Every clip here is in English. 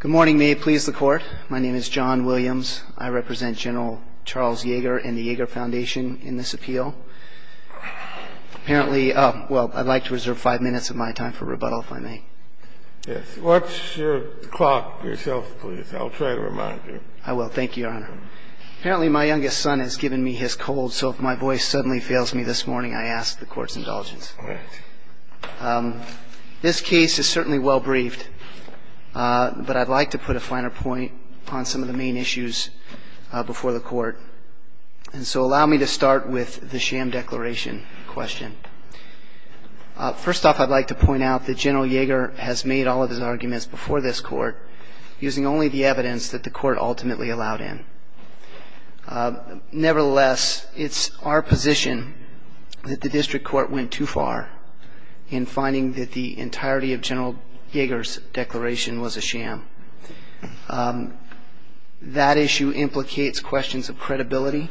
Good morning. May it please the court. My name is John Williams. I represent General Charles Yeager and the Yeager Foundation in this appeal. Apparently, well, I'd like to reserve five minutes of my time for rebuttal, if I may. Yes. Watch your clock yourself, please. I'll try to remind you. I will. Thank you, Your Honor. Apparently, my youngest son has given me his cold, so if my voice suddenly fails me this morning, I ask the court's indulgence. All right. This case is certainly well briefed, but I'd like to put a finer point on some of the main issues before the court. And so allow me to start with the sham declaration question. First off, I'd like to point out that General Yeager has made all of his arguments before this court using only the evidence that the court ultimately allowed him. Nevertheless, it's our position that the district court went too far in finding that the entirety of General Yeager's declaration was a sham. That issue implicates questions of credibility.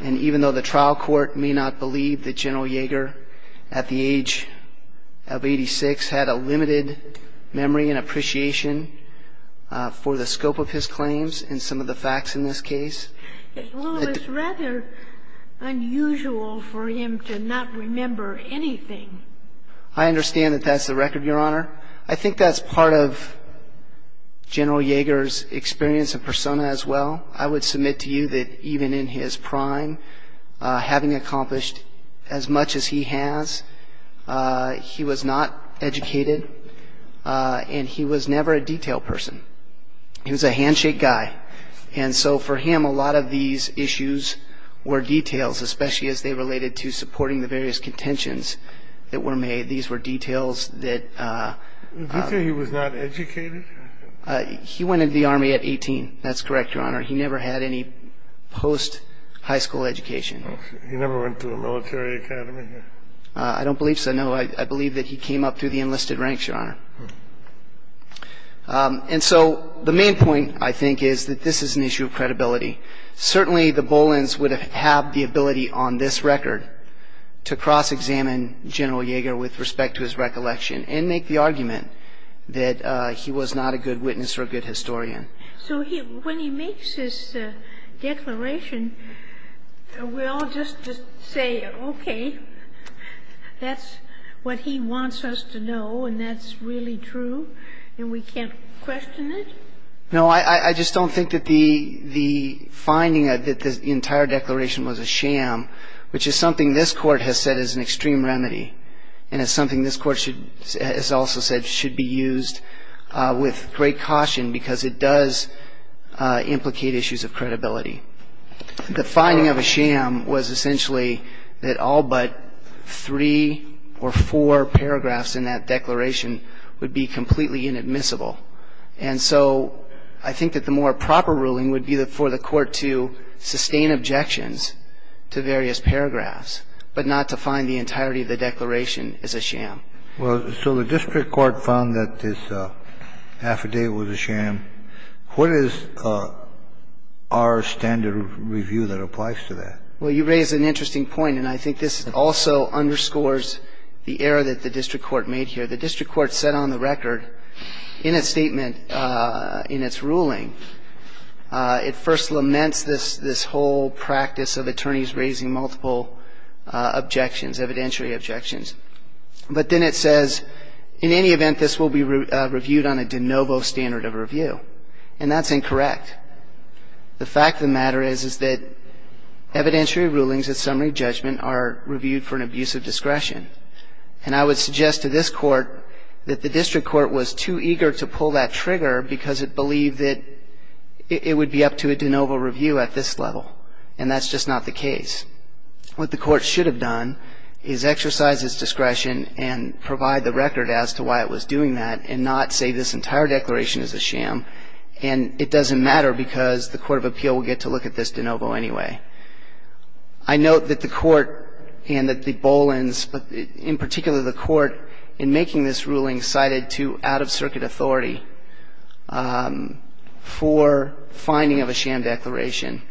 And even though the trial court may not believe that General Yeager, at the age of 86, had a limited memory and appreciation for the scope of his claims and some of the facts in this case. Well, it's rather unusual for him to not remember anything. I understand that that's the record, Your Honor. I think that's part of General Yeager's experience and persona as well. I would submit to you that even in his prime, having accomplished as much as he has, he was not educated and he was never a detailed person. He was a handshake guy. And so for him, a lot of these issues were details, especially as they related to supporting the various contentions that were made. These were details that he was not educated. He went into the Army at 18. That's correct, Your Honor. He never had any post-high school education. He never went to a military academy? I don't believe so, no. I believe that he came up through the enlisted ranks, Your Honor. And so the main point, I think, is that this is an issue of credibility. Certainly, the Bolins would have had the ability on this record to cross-examine General Yeager with respect to his recollection and make the argument that he was not a good witness or a good historian. So when he makes his declaration, we all just say, okay, that's what he wants us to know, and that's really true, and we can't question it? No, I just don't think that the finding that the entire declaration was a sham, which is something this Court has said is an extreme remedy and is something this Court has also said should be used with great caution because it does implicate issues of credibility. The finding of a sham was essentially that all but three or four paragraphs in that declaration would be completely inadmissible. And so I think that the more proper ruling would be for the Court to sustain objections to various paragraphs but not to find the entirety of the declaration as a sham. Well, so the district court found that this affidavit was a sham. What is our standard review that applies to that? Well, you raise an interesting point, and I think this also underscores the error that the district court made here. The district court set on the record in its statement, in its ruling, it first laments this whole practice of attorneys raising multiple objections, evidentiary objections. But then it says, in any event, this will be reviewed on a de novo standard of review. And that's incorrect. The fact of the matter is that evidentiary rulings at summary judgment are reviewed for an abuse of discretion. And I would suggest to this Court that the district court was too eager to pull that trigger because it believed that it would be up to a de novo review at this level. And that's just not the case. What the Court should have done is exercised its discretion and provide the record as to why it was doing that and not say this entire declaration is a sham. And it doesn't matter because the court of appeal will get to look at this de novo anyway. I note that the Court and that the Bolins, but in particular the Court in making this ruling, cited to out-of-circuit authority for finding of a sham declaration.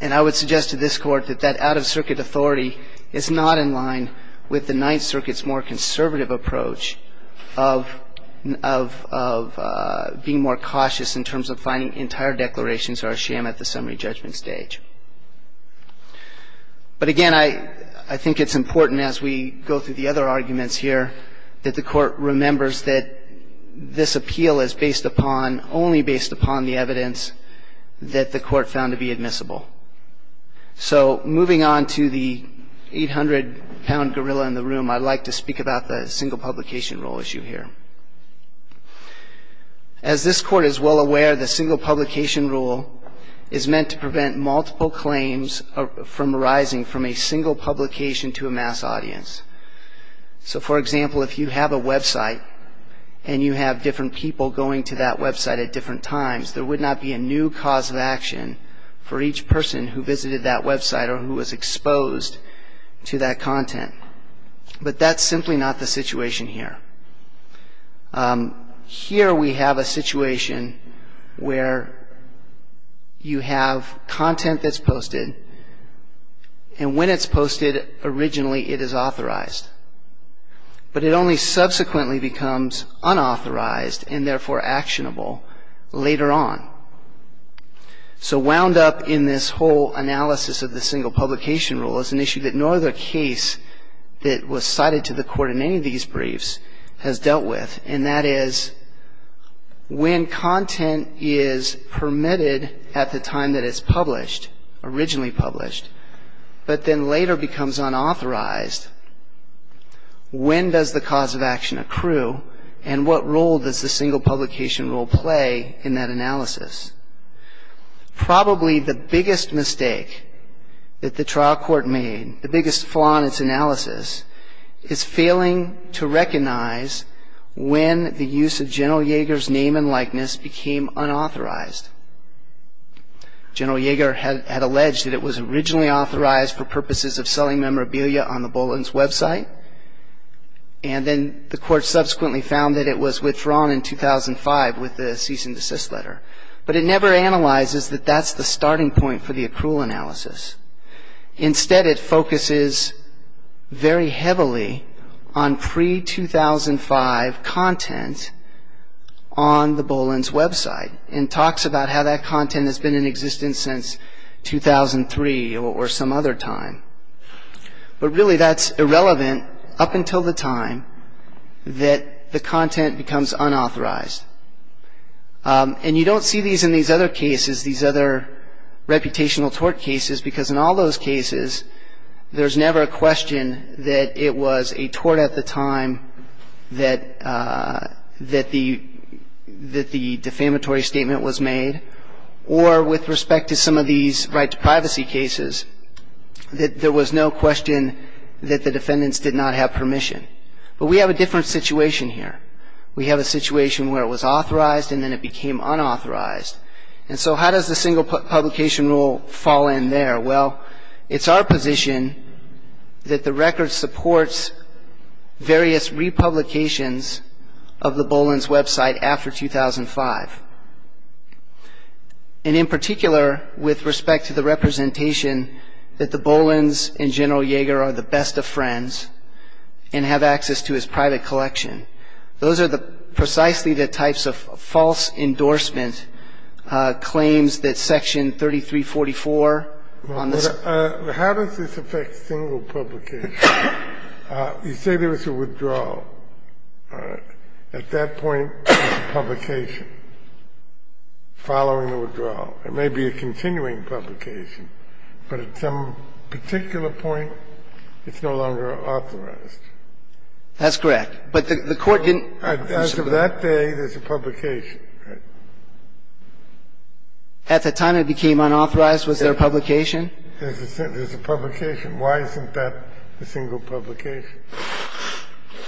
And I would suggest to this Court that that out-of-circuit authority is not in line with the Ninth Circuit's more conservative approach of being more cautious in terms of finding entire declarations are a sham at the summary judgment stage. But, again, I think it's important as we go through the other arguments here that the Court remembers that this appeal is based upon, only based upon the evidence that the Court found to be admissible. So moving on to the 800-pound gorilla in the room, I'd like to speak about the single publication rule issue here. As this Court is well aware, the single publication rule is meant to prevent multiple claims from arising from a single publication to a mass audience. So, for example, if you have a website and you have different people going to that website at different times, there would not be a new cause of action for each person who visited that website or who was exposed to that content. But that's simply not the situation here. Here we have a situation where you have content that's posted, and when it's posted, originally it is authorized. But it only subsequently becomes unauthorized and, therefore, actionable later on. So wound up in this whole analysis of the single publication rule is an issue that no other case that was cited to the Court in any of these briefs has dealt with, and that is when content is permitted at the time that it's published, originally published, but then later becomes unauthorized, when does the cause of action accrue, and what role does the single publication rule play in that analysis? Probably the biggest mistake that the trial court made, the biggest flaw in its analysis, is failing to recognize when the use of General Yeager's name and likeness became unauthorized. General Yeager had alleged that it was originally authorized for purposes of selling memorabilia on the Bulletin's website, and then the Court subsequently found that it was withdrawn in 2005 with the cease and desist letter. But it never analyzes that that's the starting point for the accrual analysis. Instead, it focuses very heavily on pre-2005 content on the Bulletin's website and talks about how that content has been in existence since 2003 or some other time. But really, that's irrelevant up until the time that the content becomes unauthorized. And you don't see these in these other cases, these other reputational tort cases, because in all those cases, there's never a question that it was a tort at the time that the defamatory statement was made, or with respect to some of these right-to-privacy cases, that there was no question that the defendants did not have permission. But we have a different situation here. We have a situation where it was authorized and then it became unauthorized. And so how does the single publication rule fall in there? Well, it's our position that the record supports various republications of the Bulletin's website after 2005. And in particular, with respect to the representation that the Bulletin's and General Yeager are the best of friends and have access to his private collection. Those are the precisely the types of false endorsement claims that Section 3344 on this. Well, how does this affect single publication? You say there was a withdrawal. All right. At that point, there's a publication following the withdrawal. It may be a continuing publication. But at some particular point, it's no longer authorized. That's correct. But the Court didn't... As of that day, there's a publication, right? At the time it became unauthorized, was there a publication? There's a publication. Why isn't that a single publication?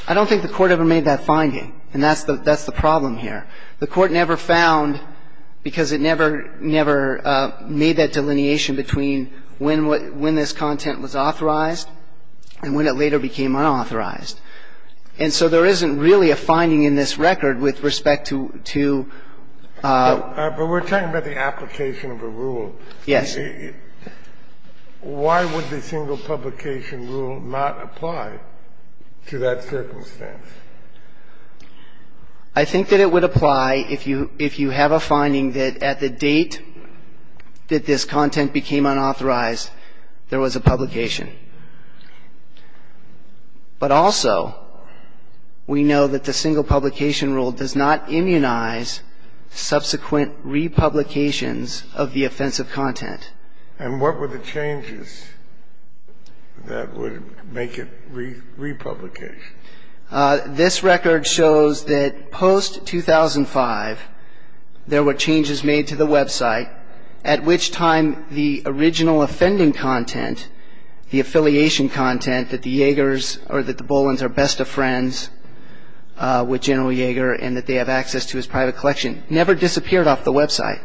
I don't think the Court ever made that finding. And that's the problem here. The Court never found, because it never made that delineation between when this content was authorized and when it later became unauthorized. And so there isn't really a finding in this record with respect to... But we're talking about the application of a rule. Yes. Why would the single publication rule not apply to that circumstance? I think that it would apply if you have a finding that at the date that this content became unauthorized, there was a publication. But also, we know that the single publication rule does not immunize subsequent republications of the offensive content. And what were the changes that would make it republication? This record shows that post-2005, there were changes made to the website at which time the original offending content, the affiliation content that the Bolins are best of friends with General Jaeger and that they have access to his private collection, never disappeared off the website.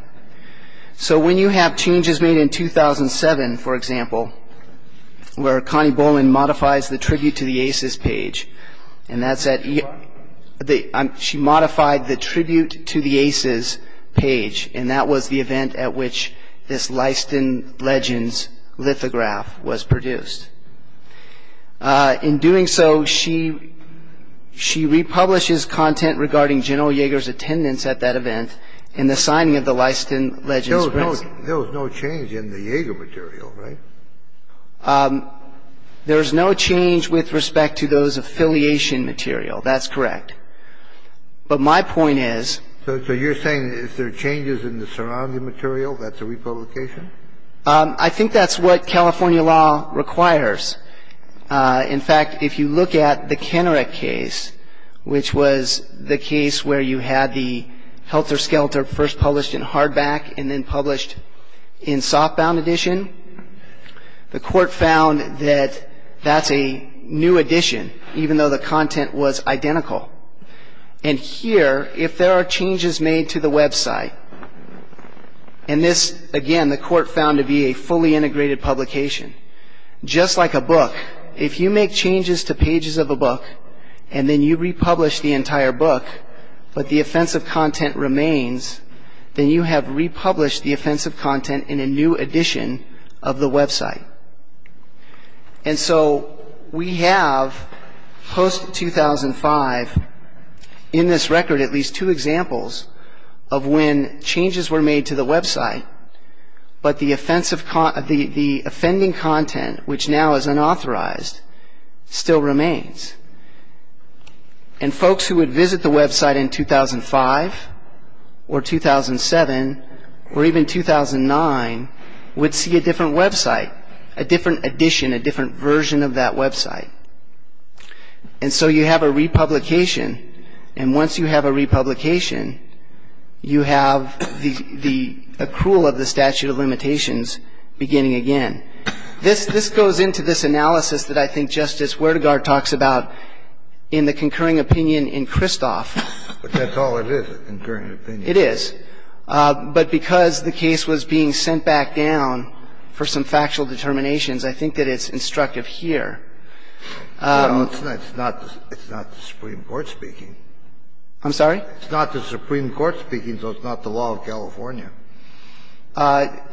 So when you have changes made in 2007, for example, where Connie Bolin modifies the Tribute to the Aces page, and that's at... She modified the Tribute to the Aces page, and that was the event at which this Leiston Legends lithograph was produced. In doing so, she republishes content regarding General Jaeger's attendance at that event and the signing of the Leiston Legends... There was no change in the Jaeger material, right? There's no change with respect to those affiliation material. That's correct. But my point is... So you're saying is there changes in the surrounding material that's a republication? I think that's what California law requires. In fact, if you look at the Kenneret case, which was the case where you had the Helter Skelter first published in hardback and then published in softbound edition, the Court found that that's a new edition, even though the content was identical. And here, if there are changes made to the website... And this, again, the Court found to be a fully integrated publication. Just like a book, if you make changes to pages of a book and then you republish the entire book, but the offensive content remains, then you have republished the offensive content in a new edition of the website. And so we have, post-2005, in this record at least two examples of when changes were made to the website, but the offending content, which now is unauthorized, still remains. And folks who would visit the website in 2005 or 2007 or even 2009 would see a different website, a different edition, a different version of that website. And so you have a republication, and once you have a republication, you have the accrual of the statute of limitations beginning again. And this goes into this analysis that I think Justice Werdegaard talks about in the concurring opinion in Kristoff. But that's all it is, a concurring opinion. It is. But because the case was being sent back down for some factual determinations, I think that it's instructive here. Well, it's not the Supreme Court speaking. I'm sorry? It's not the Supreme Court speaking, so it's not the law of California.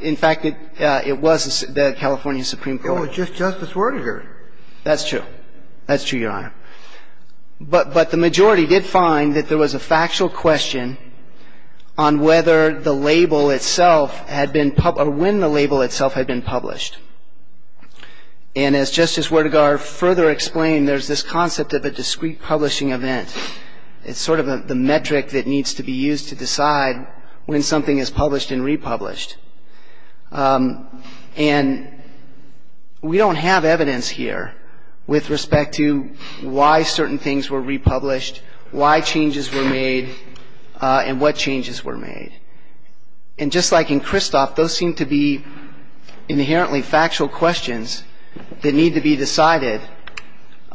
In fact, it was the California Supreme Court. Oh, it's just Justice Werdegaard. That's true. That's true, Your Honor. But the majority did find that there was a factual question on whether the label itself had been published or when the label itself had been published. And as Justice Werdegaard further explained, there's this concept of a discrete publishing event. It's sort of the metric that needs to be used to decide when something is published and republished. And we don't have evidence here with respect to why certain things were republished, why changes were made, and what changes were made. And just like in Kristoff, those seem to be inherently factual questions that need to be decided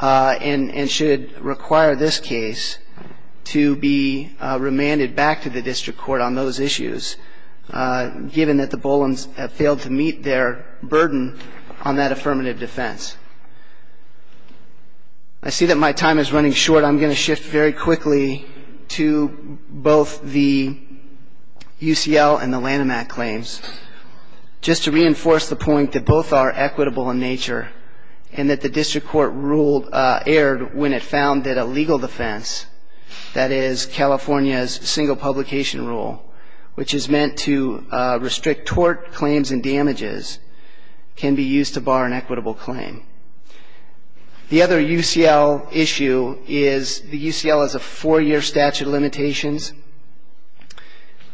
and should require this case to be remanded back to the district court on those issues, given that the Bolins have failed to meet their burden on that affirmative defense. I see that my time is running short. I'm going to shift very quickly to both the UCL and the Lanham Act claims, just to reinforce the point that both are equitable in nature and that the district court erred when it found that a legal defense, that is California's single publication rule, which is meant to restrict tort claims and damages, can be used to bar an equitable claim. The other UCL issue is the UCL has a four-year statute of limitations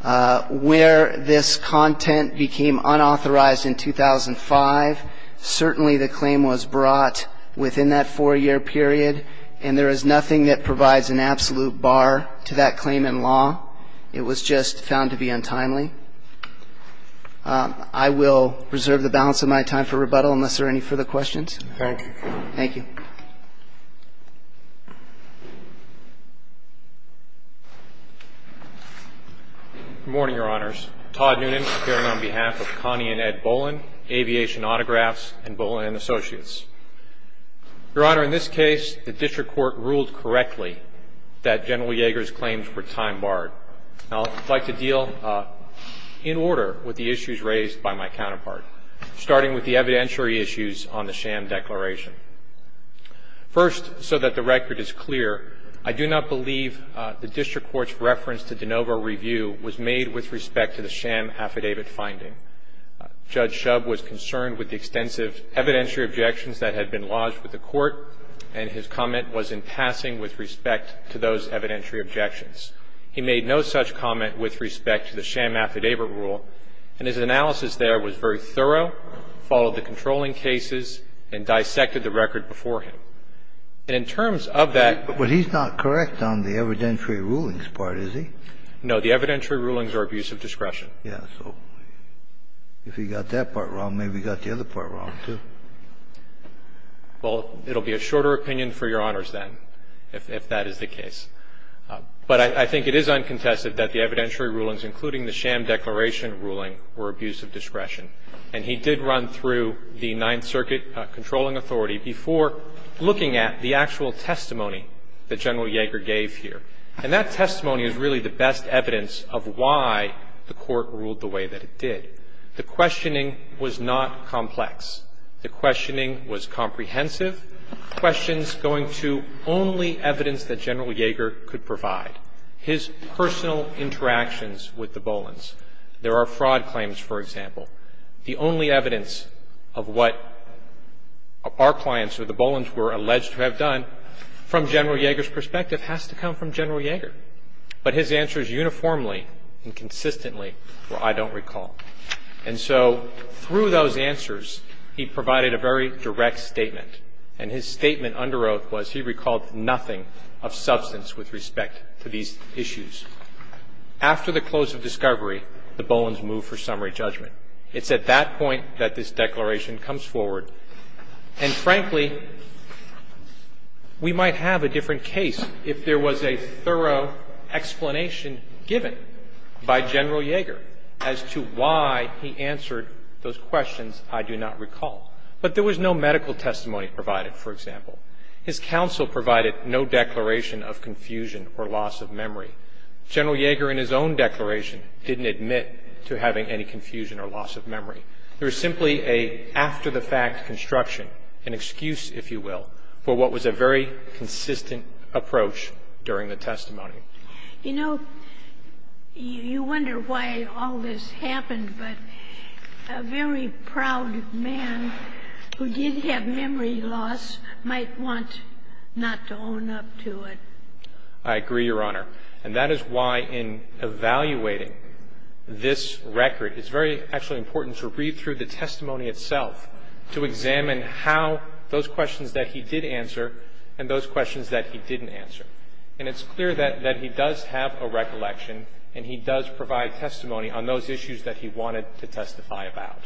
where this content became unauthorized in 2005. Certainly the claim was brought within that four-year period, and there is nothing that provides an absolute bar to that claim in law. It was just found to be untimely. I will reserve the balance of my time for rebuttal unless there are any further questions. Thank you. Good morning, Your Honors. Todd Noonan here on behalf of Connie and Ed Bolin, Aviation Autographs and Bolin & Associates. Your Honor, in this case, the district court ruled correctly that General Yeager's claims were time-barred. I would like to deal in order with the issues raised by my counterpart, starting with the evidentiary issues on the sham declaration. First, so that the record is clear, I do not believe the district court's reference to de novo review was made with respect to the sham affidavit finding. Judge Shub was concerned with the extensive evidentiary objections that had been lodged with the court, and his comment was in passing with respect to those evidentiary objections. He made no such comment with respect to the sham affidavit rule, and his analysis there was very thorough, followed the controlling cases, and dissected the record beforehand. And in terms of that ---- But he's not correct on the evidentiary rulings part, is he? No. The evidentiary rulings are abuse of discretion. Yes. So if he got that part wrong, maybe he got the other part wrong, too. Well, it will be a shorter opinion for Your Honors then, if that is the case. But I think it is uncontested that the evidentiary rulings, including the sham declaration ruling, were abuse of discretion. And he did run through the Ninth Circuit controlling authority before looking at the actual testimony that General Yeager gave here. And that testimony is really the best evidence of why the court ruled the way that it did. The questioning was not complex. The questioning was comprehensive, questions going to only evidence that General Yeager could provide, his personal interactions with the Bolins. There are fraud claims, for example. The only evidence of what our clients or the Bolins were alleged to have done, from General Yeager's perspective, has to come from General Yeager. But his answers uniformly and consistently were, I don't recall. And so through those answers, he provided a very direct statement. And his statement under oath was he recalled nothing of substance with respect to these issues. After the close of discovery, the Bolins moved for summary judgment. It's at that point that this declaration comes forward. And, frankly, we might have a different case if there was a thorough explanation given by General Yeager as to why he answered those questions, I do not recall. But there was no medical testimony provided, for example. His counsel provided no declaration of confusion or loss of memory. General Yeager in his own declaration didn't admit to having any confusion or loss of memory. There was simply an after-the-fact construction, an excuse, if you will, for what was a very consistent approach during the testimony. You know, you wonder why all this happened, but a very proud man who did have memory loss might want not to own up to it. I agree, Your Honor. And that is why in evaluating this record, it's very actually important to read through the testimony itself to examine how those questions that he did answer and those questions that he didn't answer. And it's clear that he does have a recollection and he does provide testimony on those issues that he wanted to testify about.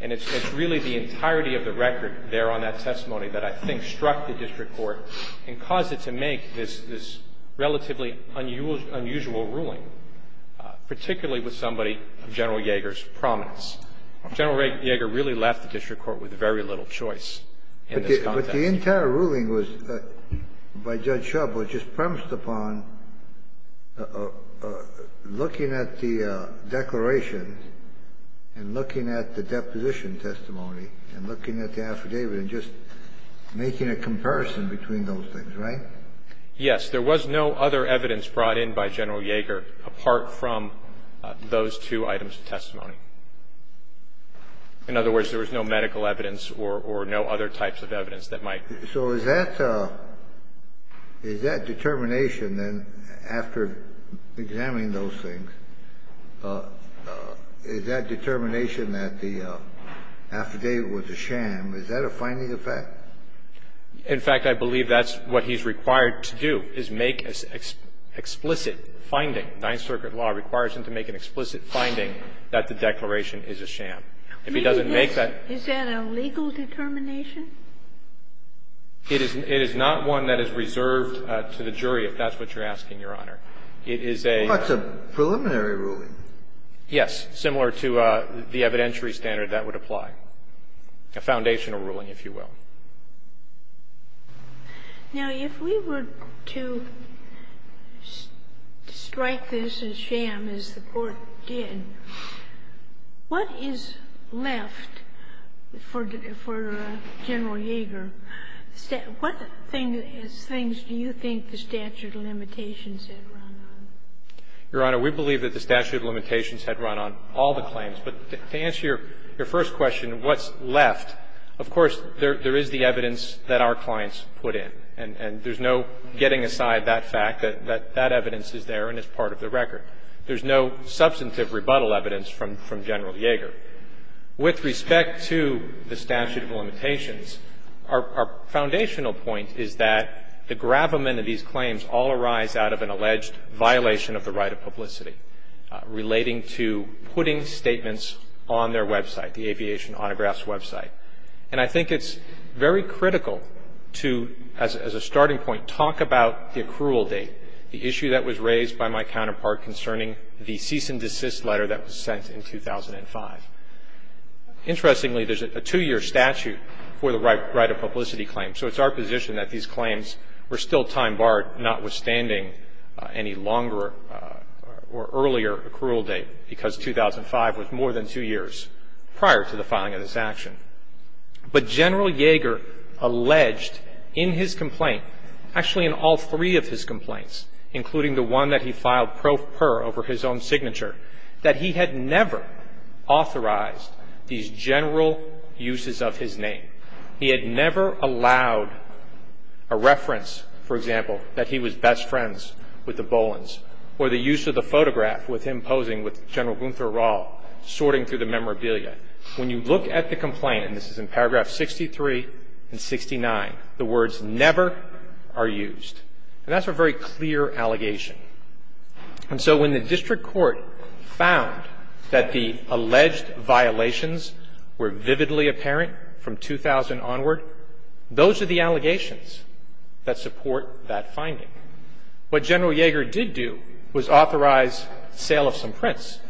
And it's really the entirety of the record there on that testimony that I think struck the district court and caused it to make this relatively unusual ruling, particularly with somebody of General Yeager's prominence. General Yeager really left the district court with very little choice in this context. The entire ruling was, by Judge Shub, was just premised upon looking at the declaration and looking at the deposition testimony and looking at the affidavit and just making a comparison between those things, right? Yes. There was no other evidence brought in by General Yeager apart from those two items of testimony. In other words, there was no medical evidence or no other types of evidence that might be used. So is that determination, then, after examining those things, is that determination that the affidavit was a sham, is that a finding of fact? In fact, I believe that's what he's required to do, is make an explicit finding. The Ninth Circuit law requires him to make an explicit finding that the declaration is a sham. If he doesn't make that ---- Is that a legal determination? It is not one that is reserved to the jury, if that's what you're asking, Your Honor. It is a ---- Well, that's a preliminary ruling. Yes. Similar to the evidentiary standard, that would apply. A foundational ruling, if you will. Now, if we were to strike this as sham, as the Court did, what is left for General Yeager? What things do you think the statute of limitations had run on? Your Honor, we believe that the statute of limitations had run on all the claims. But to answer your first question, what's left, of course, there is the evidence that our clients put in. And there's no getting aside that fact, that that evidence is there and it's part of the record. There's no substantive rebuttal evidence from General Yeager. With respect to the statute of limitations, our foundational point is that the gravamen of these claims all arise out of an alleged violation of the right of publicity relating to putting statements on their website, the aviation autographs website. And I think it's very critical to, as a starting point, talk about the accrual date, the issue that was raised by my counterpart concerning the cease and desist letter that was sent in 2005. Interestingly, there's a two-year statute for the right of publicity claim. So it's our position that these claims were still time barred, notwithstanding any longer or earlier accrual date, because 2005 was more than two years prior to the filing of this action. But General Yeager alleged in his complaint, actually in all three of his complaints, including the one that he filed pro per over his own signature, that he had never authorized these general uses of his name. He had never allowed a reference, for example, that he was best friends with the Bolans, or the use of the photograph with him posing with General Gunther Rall, sorting through the memorabilia. When you look at the complaint, and this is in paragraph 63 and 69, the words never are used. And that's a very clear allegation. And so when the district court found that the alleged violations were vividly apparent from 2000 onward, those are the allegations that support that finding. What General Yeager did do was authorize sale of some prints,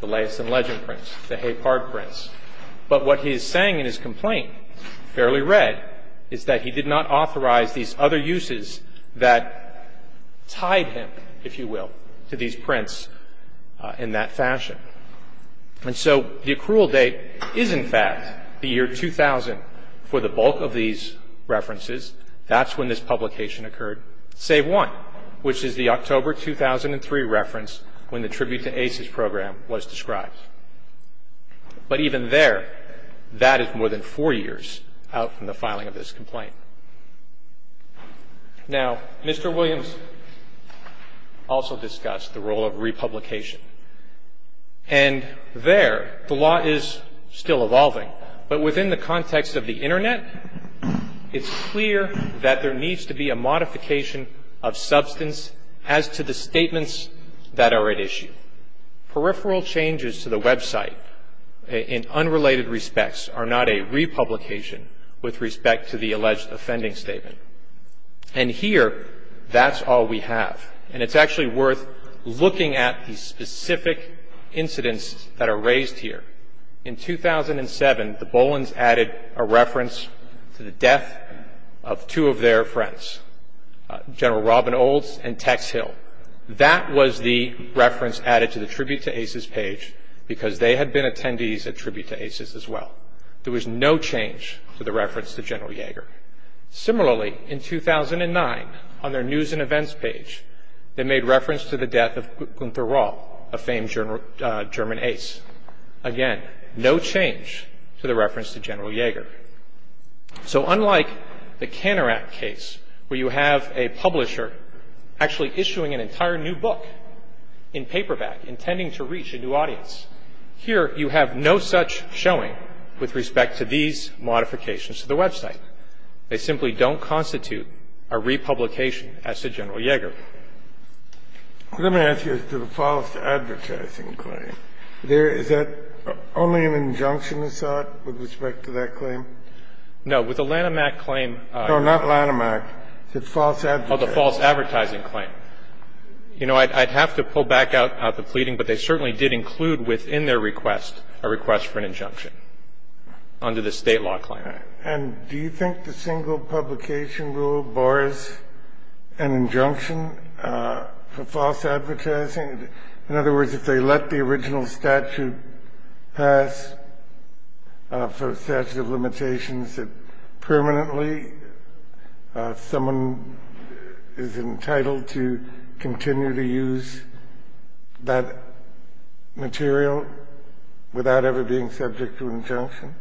the Leyes and Legend prints, the Hay Park prints. But what he is saying in his complaint, fairly read, is that he did not authorize these other uses that tied him, if you will, to these prints in that fashion. And so the accrual date is, in fact, the year 2000 for the bulk of these references. That's when this publication occurred, save one, which is the October 2003 reference when the Tribute to Aces Program was described. But even there, that is more than four years out from the filing of this complaint. Now, Mr. Williams also discussed the role of republication. And there, the law is still evolving, but within the context of the Internet, it's clear that there needs to be a modification of substance as to the statements that are at issue. Peripheral changes to the website in unrelated respects are not a republication with respect to the alleged offending statement. And here, that's all we have. And it's actually worth looking at the specific incidents that are raised here. In 2007, the Bolins added a reference to the death of two of their friends, General Robin Olds and Tex Hill. That was the reference added to the Tribute to Aces page because they had been attendees at Tribute to Aces as well. There was no change to the reference to General Yeager. Similarly, in 2009, on their News and Events page, they made reference to the death of Gunther Rohr, a famed German ace. Again, no change to the reference to General Yeager. So unlike the Canorac case where you have a publisher actually issuing an entire new book in paperback intending to reach a new audience, here you have no such showing with respect to these modifications to the website. They simply don't constitute a republication as to General Yeager. Let me ask you as to the false advertising claim. There is that only an injunction is sought with respect to that claim? No. With the Lanhamac claim. No, not Lanhamac. It's false advertising. Oh, the false advertising claim. You know, I'd have to pull back out the pleading, but they certainly did include within their request a request for an injunction under the State law claim. And do you think the single publication rule bars an injunction for false advertising? In other words, if they let the original statute pass for statute of limitations that permanently someone is entitled to continue to use that material without ever being subject to injunction?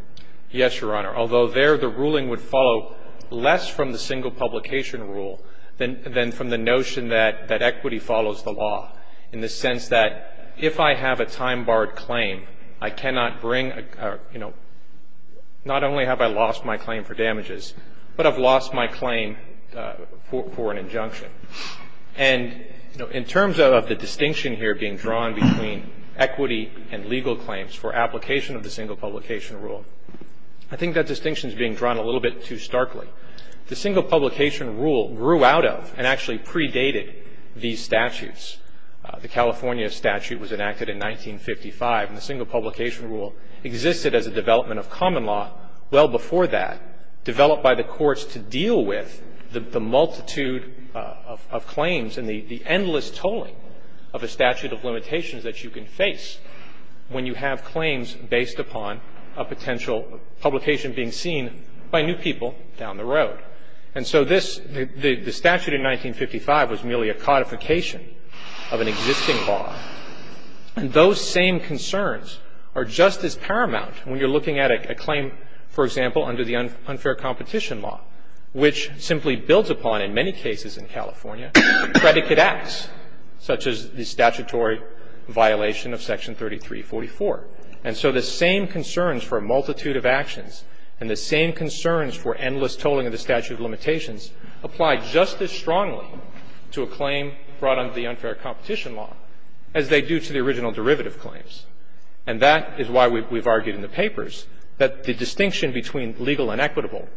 Yes, Your Honor, although there the ruling would follow less from the single publication rule than from the notion that equity follows the law in the sense that if I have a time-barred claim, I cannot bring, you know, not only have I lost my claim for damages, but I've lost my claim for an injunction. And, you know, in terms of the distinction here being drawn between equity and legal claims for application of the single publication rule, I think that distinction is being drawn a little bit too starkly. The single publication rule grew out of and actually predated these statutes. The California statute was enacted in 1955, and the single publication rule existed as a development of common law well before that, developed by the courts to deal with the multitude of claims and the endless tolling of a statute of limitations that you can face when you have claims based upon a potential publication being seen by new people down the road. And so this, the statute in 1955 was merely a codification of an existing law. And those same concerns are just as paramount when you're looking at a claim, for example, under the unfair competition law, which simply builds upon, in many cases in California, predicate acts, such as the statutory violation of Section 3344. And so the same concerns for a multitude of actions and the same concerns for endless tolling of the statute of limitations apply just as strongly to a claim brought under the unfair competition law as they do to the original derivative claims. And that is why we've argued in the papers that the distinction between legal and equitable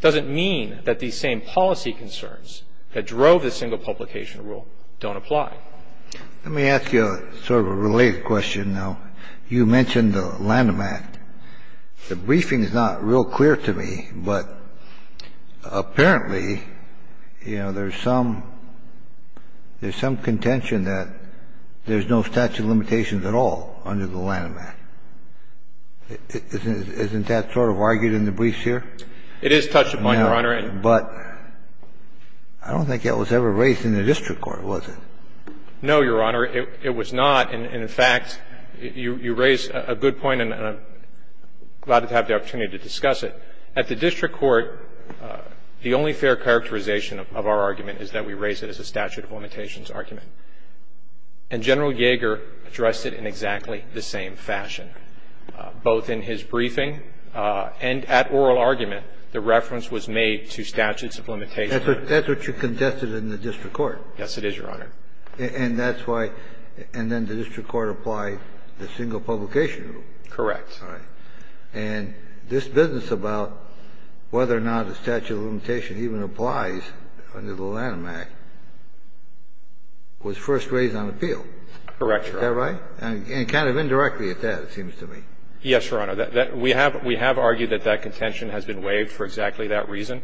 doesn't mean that these same policy concerns that drove the single publication rule don't apply. Let me ask you sort of a related question, though. You mentioned the Lanham Act. The briefing is not real clear to me, but apparently, you know, there's some, there's some contention that there's no statute of limitations at all under the Lanham Act. Isn't that sort of argued in the briefs here? It is touched upon, Your Honor. But I don't think that was ever raised in the district court, was it? No, Your Honor. It was not. And, in fact, you raise a good point, and I'm glad to have the opportunity to discuss it. At the district court, the only fair characterization of our argument is that we raise it as a statute of limitations argument. And General Yeager addressed it in exactly the same fashion. Both in his briefing and at oral argument, the reference was made to statutes of limitations. That's what you contested in the district court. Yes, it is, Your Honor. And that's why, and then the district court applied the single publication rule. Correct. All right. And this business about whether or not a statute of limitation even applies under the district court was first raised on appeal. Correct, Your Honor. Is that right? And kind of indirectly at that, it seems to me. Yes, Your Honor. We have argued that that contention has been waived for exactly that reason,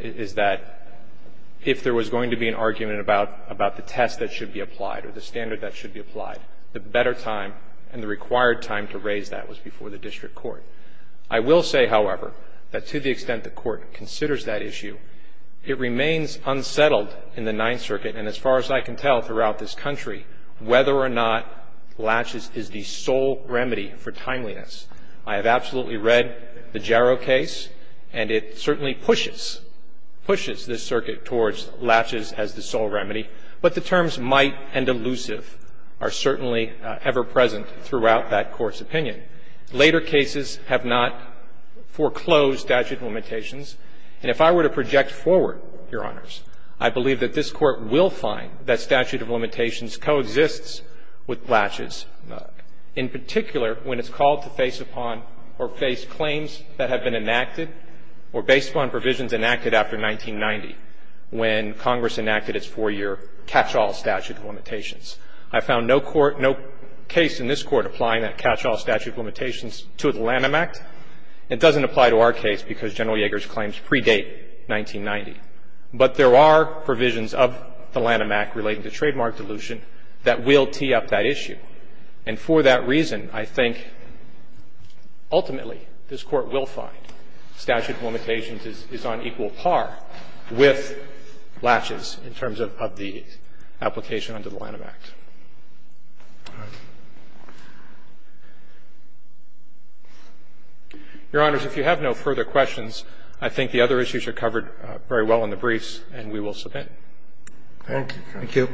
is that if there was going to be an argument about the test that should be applied or the standard that should be applied, the better time and the required time to raise that was before the district court. I will say, however, that to the extent the Court considers that issue, it remains unsettled in the Ninth Circuit, and as far as I can tell throughout this country, whether or not laches is the sole remedy for timeliness. I have absolutely read the Jarrow case, and it certainly pushes, pushes this circuit towards laches as the sole remedy, but the terms might and elusive are certainly ever-present throughout that Court's opinion. Later cases have not foreclosed statute of limitations. And if I were to project forward, Your Honors, I believe that this Court will find that statute of limitations coexists with laches, in particular when it's called to face upon or face claims that have been enacted or based upon provisions enacted after 1990 when Congress enacted its four-year catch-all statute of limitations. I found no court, no case in this Court applying that catch-all statute of limitations to the Lanham Act. It doesn't apply to our case because General Yeager's claims predate 1990. But there are provisions of the Lanham Act relating to trademark dilution that will tee up that issue. And for that reason, I think ultimately this Court will find statute of limitations is on equal par with laches in terms of the application under the Lanham Act. Your Honors, if you have no further questions, I think the other issues are covered very well in the briefs, and we will submit. Thank you. Thank you.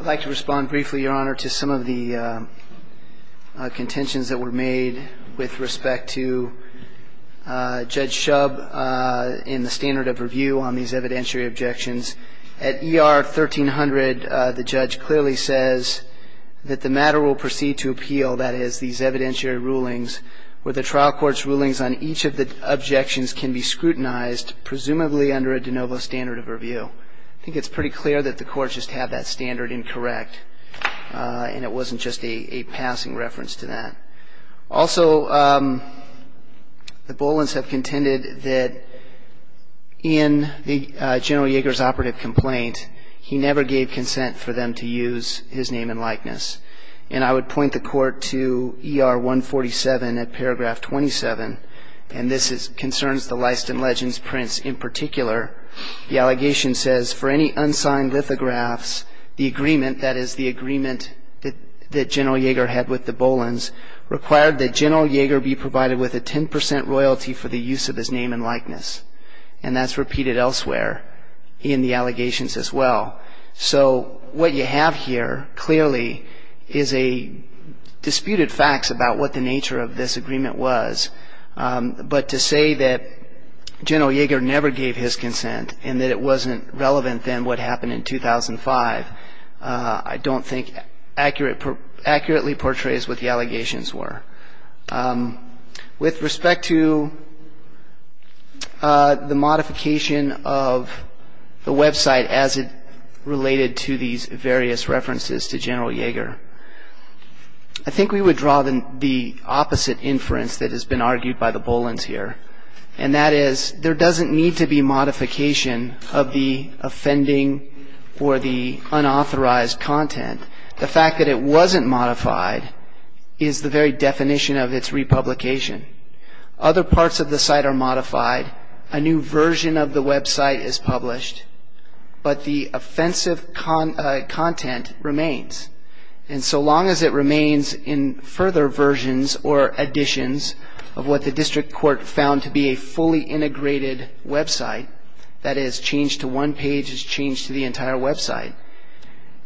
I'd like to respond briefly, Your Honor, to some of the contentions that were made with respect to Judge Shub in the standard of review on these evidentiary objections. At ER 1300, the judge clearly says that the matter will proceed to appeal, that is, these evidentiary rulings where the trial court's rulings on each of the objections can be scrutinized, presumably under a de novo standard of review. I think it's pretty clear that the courts just have that standard incorrect, and it wasn't just a passing reference to that. Also, the Bolins have contended that in General Yeager's operative complaint, he never gave consent for them to use his name and likeness. And I would point the Court to ER 147 at paragraph 27, and this concerns the Leiston Legends prints in particular. The allegation says, for any unsigned lithographs, the agreement, that General Yeager had with the Bolins required that General Yeager be provided with a 10% royalty for the use of his name and likeness, and that's repeated elsewhere in the allegations as well. So what you have here clearly is disputed facts about what the nature of this agreement was. But to say that General Yeager never gave his consent and that it wasn't relevant than what happened in 2005, I don't think accurately portrays what the allegations were. With respect to the modification of the website as it related to these various references to General Yeager, I think we would draw the opposite inference that has been argued by the Bolins here, and that is there doesn't need to be modification of the offending or the unauthorized content. The fact that it wasn't modified is the very definition of its republication. Other parts of the site are modified. A new version of the website is published, but the offensive content remains. And so long as it remains in further versions or additions of what the district court found to be a fully integrated website, that is changed to one page is changed to the entire website,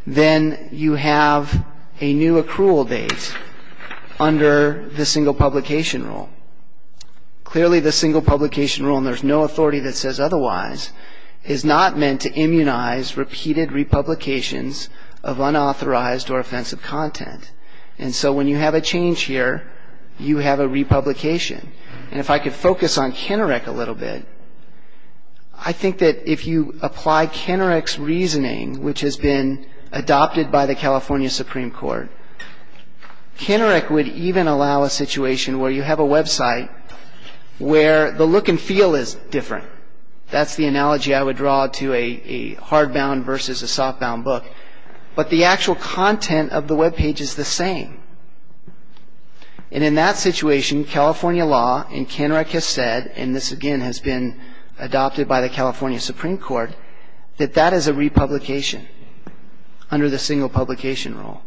then you have a new accrual date under the single publication rule. Clearly the single publication rule, and there's no authority that says otherwise, is not meant to immunize repeated republications of unauthorized or offensive content. And so when you have a change here, you have a republication. And if I could focus on Kennerec a little bit, I think that if you apply Kennerec's reasoning, which has been adopted by the California Supreme Court, Kennerec would even allow a situation where you have a website where the look and feel is different. That's the analogy I would draw to a hardbound versus a softbound book. But the actual content of the webpage is the same. And in that situation, California law and Kennerec has said, and this again has been adopted by the California Supreme Court, that that is a republication under the single publication rule.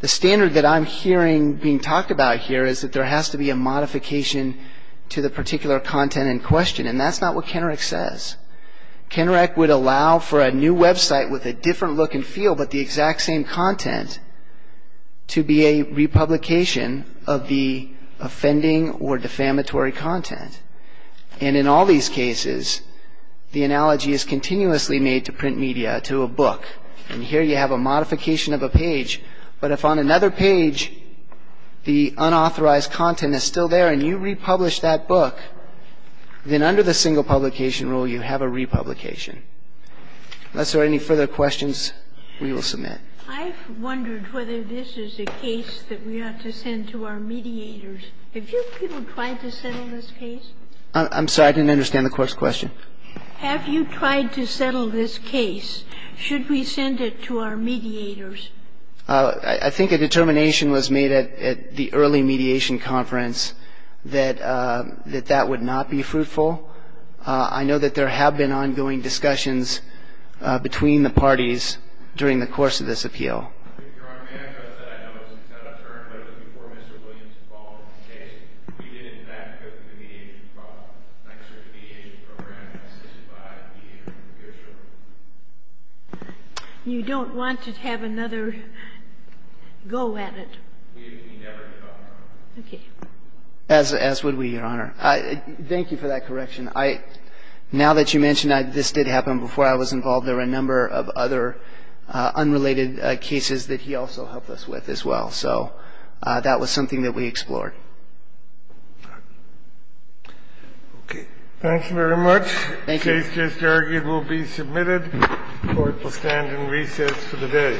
The standard that I'm hearing being talked about here is that there has to be a modification to the particular content in question, and that's not what Kennerec says. Kennerec would allow for a new website with a different look and feel but the exact same content to be a republication of the offending or defamatory content. And in all these cases, the analogy is continuously made to print media, to a book. And here you have a modification of a page, but if on another page the unauthorized content is still there and you republish that book, then under the single publication rule you have a republication. Unless there are any further questions, we will submit. I've wondered whether this is a case that we ought to send to our mediators. Have you people tried to settle this case? I'm sorry. I didn't understand the Court's question. Have you tried to settle this case? Should we send it to our mediators? I think a determination was made at the early mediation conference that that would not be fruitful. I know that there have been ongoing discussions between the parties during the course of this appeal. Your Honor, may I address that? I know it was a set-up term, but it was before Mr. Williams' involvement in the case. We did, in fact, go through the mediation process. Thanks to our mediation program and assisted by the mediators. You don't want to have another go at it? We never did, Your Honor. Okay. As would we, Your Honor. Thank you for that correction. Now that you mention this did happen before I was involved, there were a number of other unrelated cases that he also helped us with as well. So that was something that we explored. Okay. Thank you very much. Thank you. This case, I argue, will be submitted. Court will stand in recess for the day.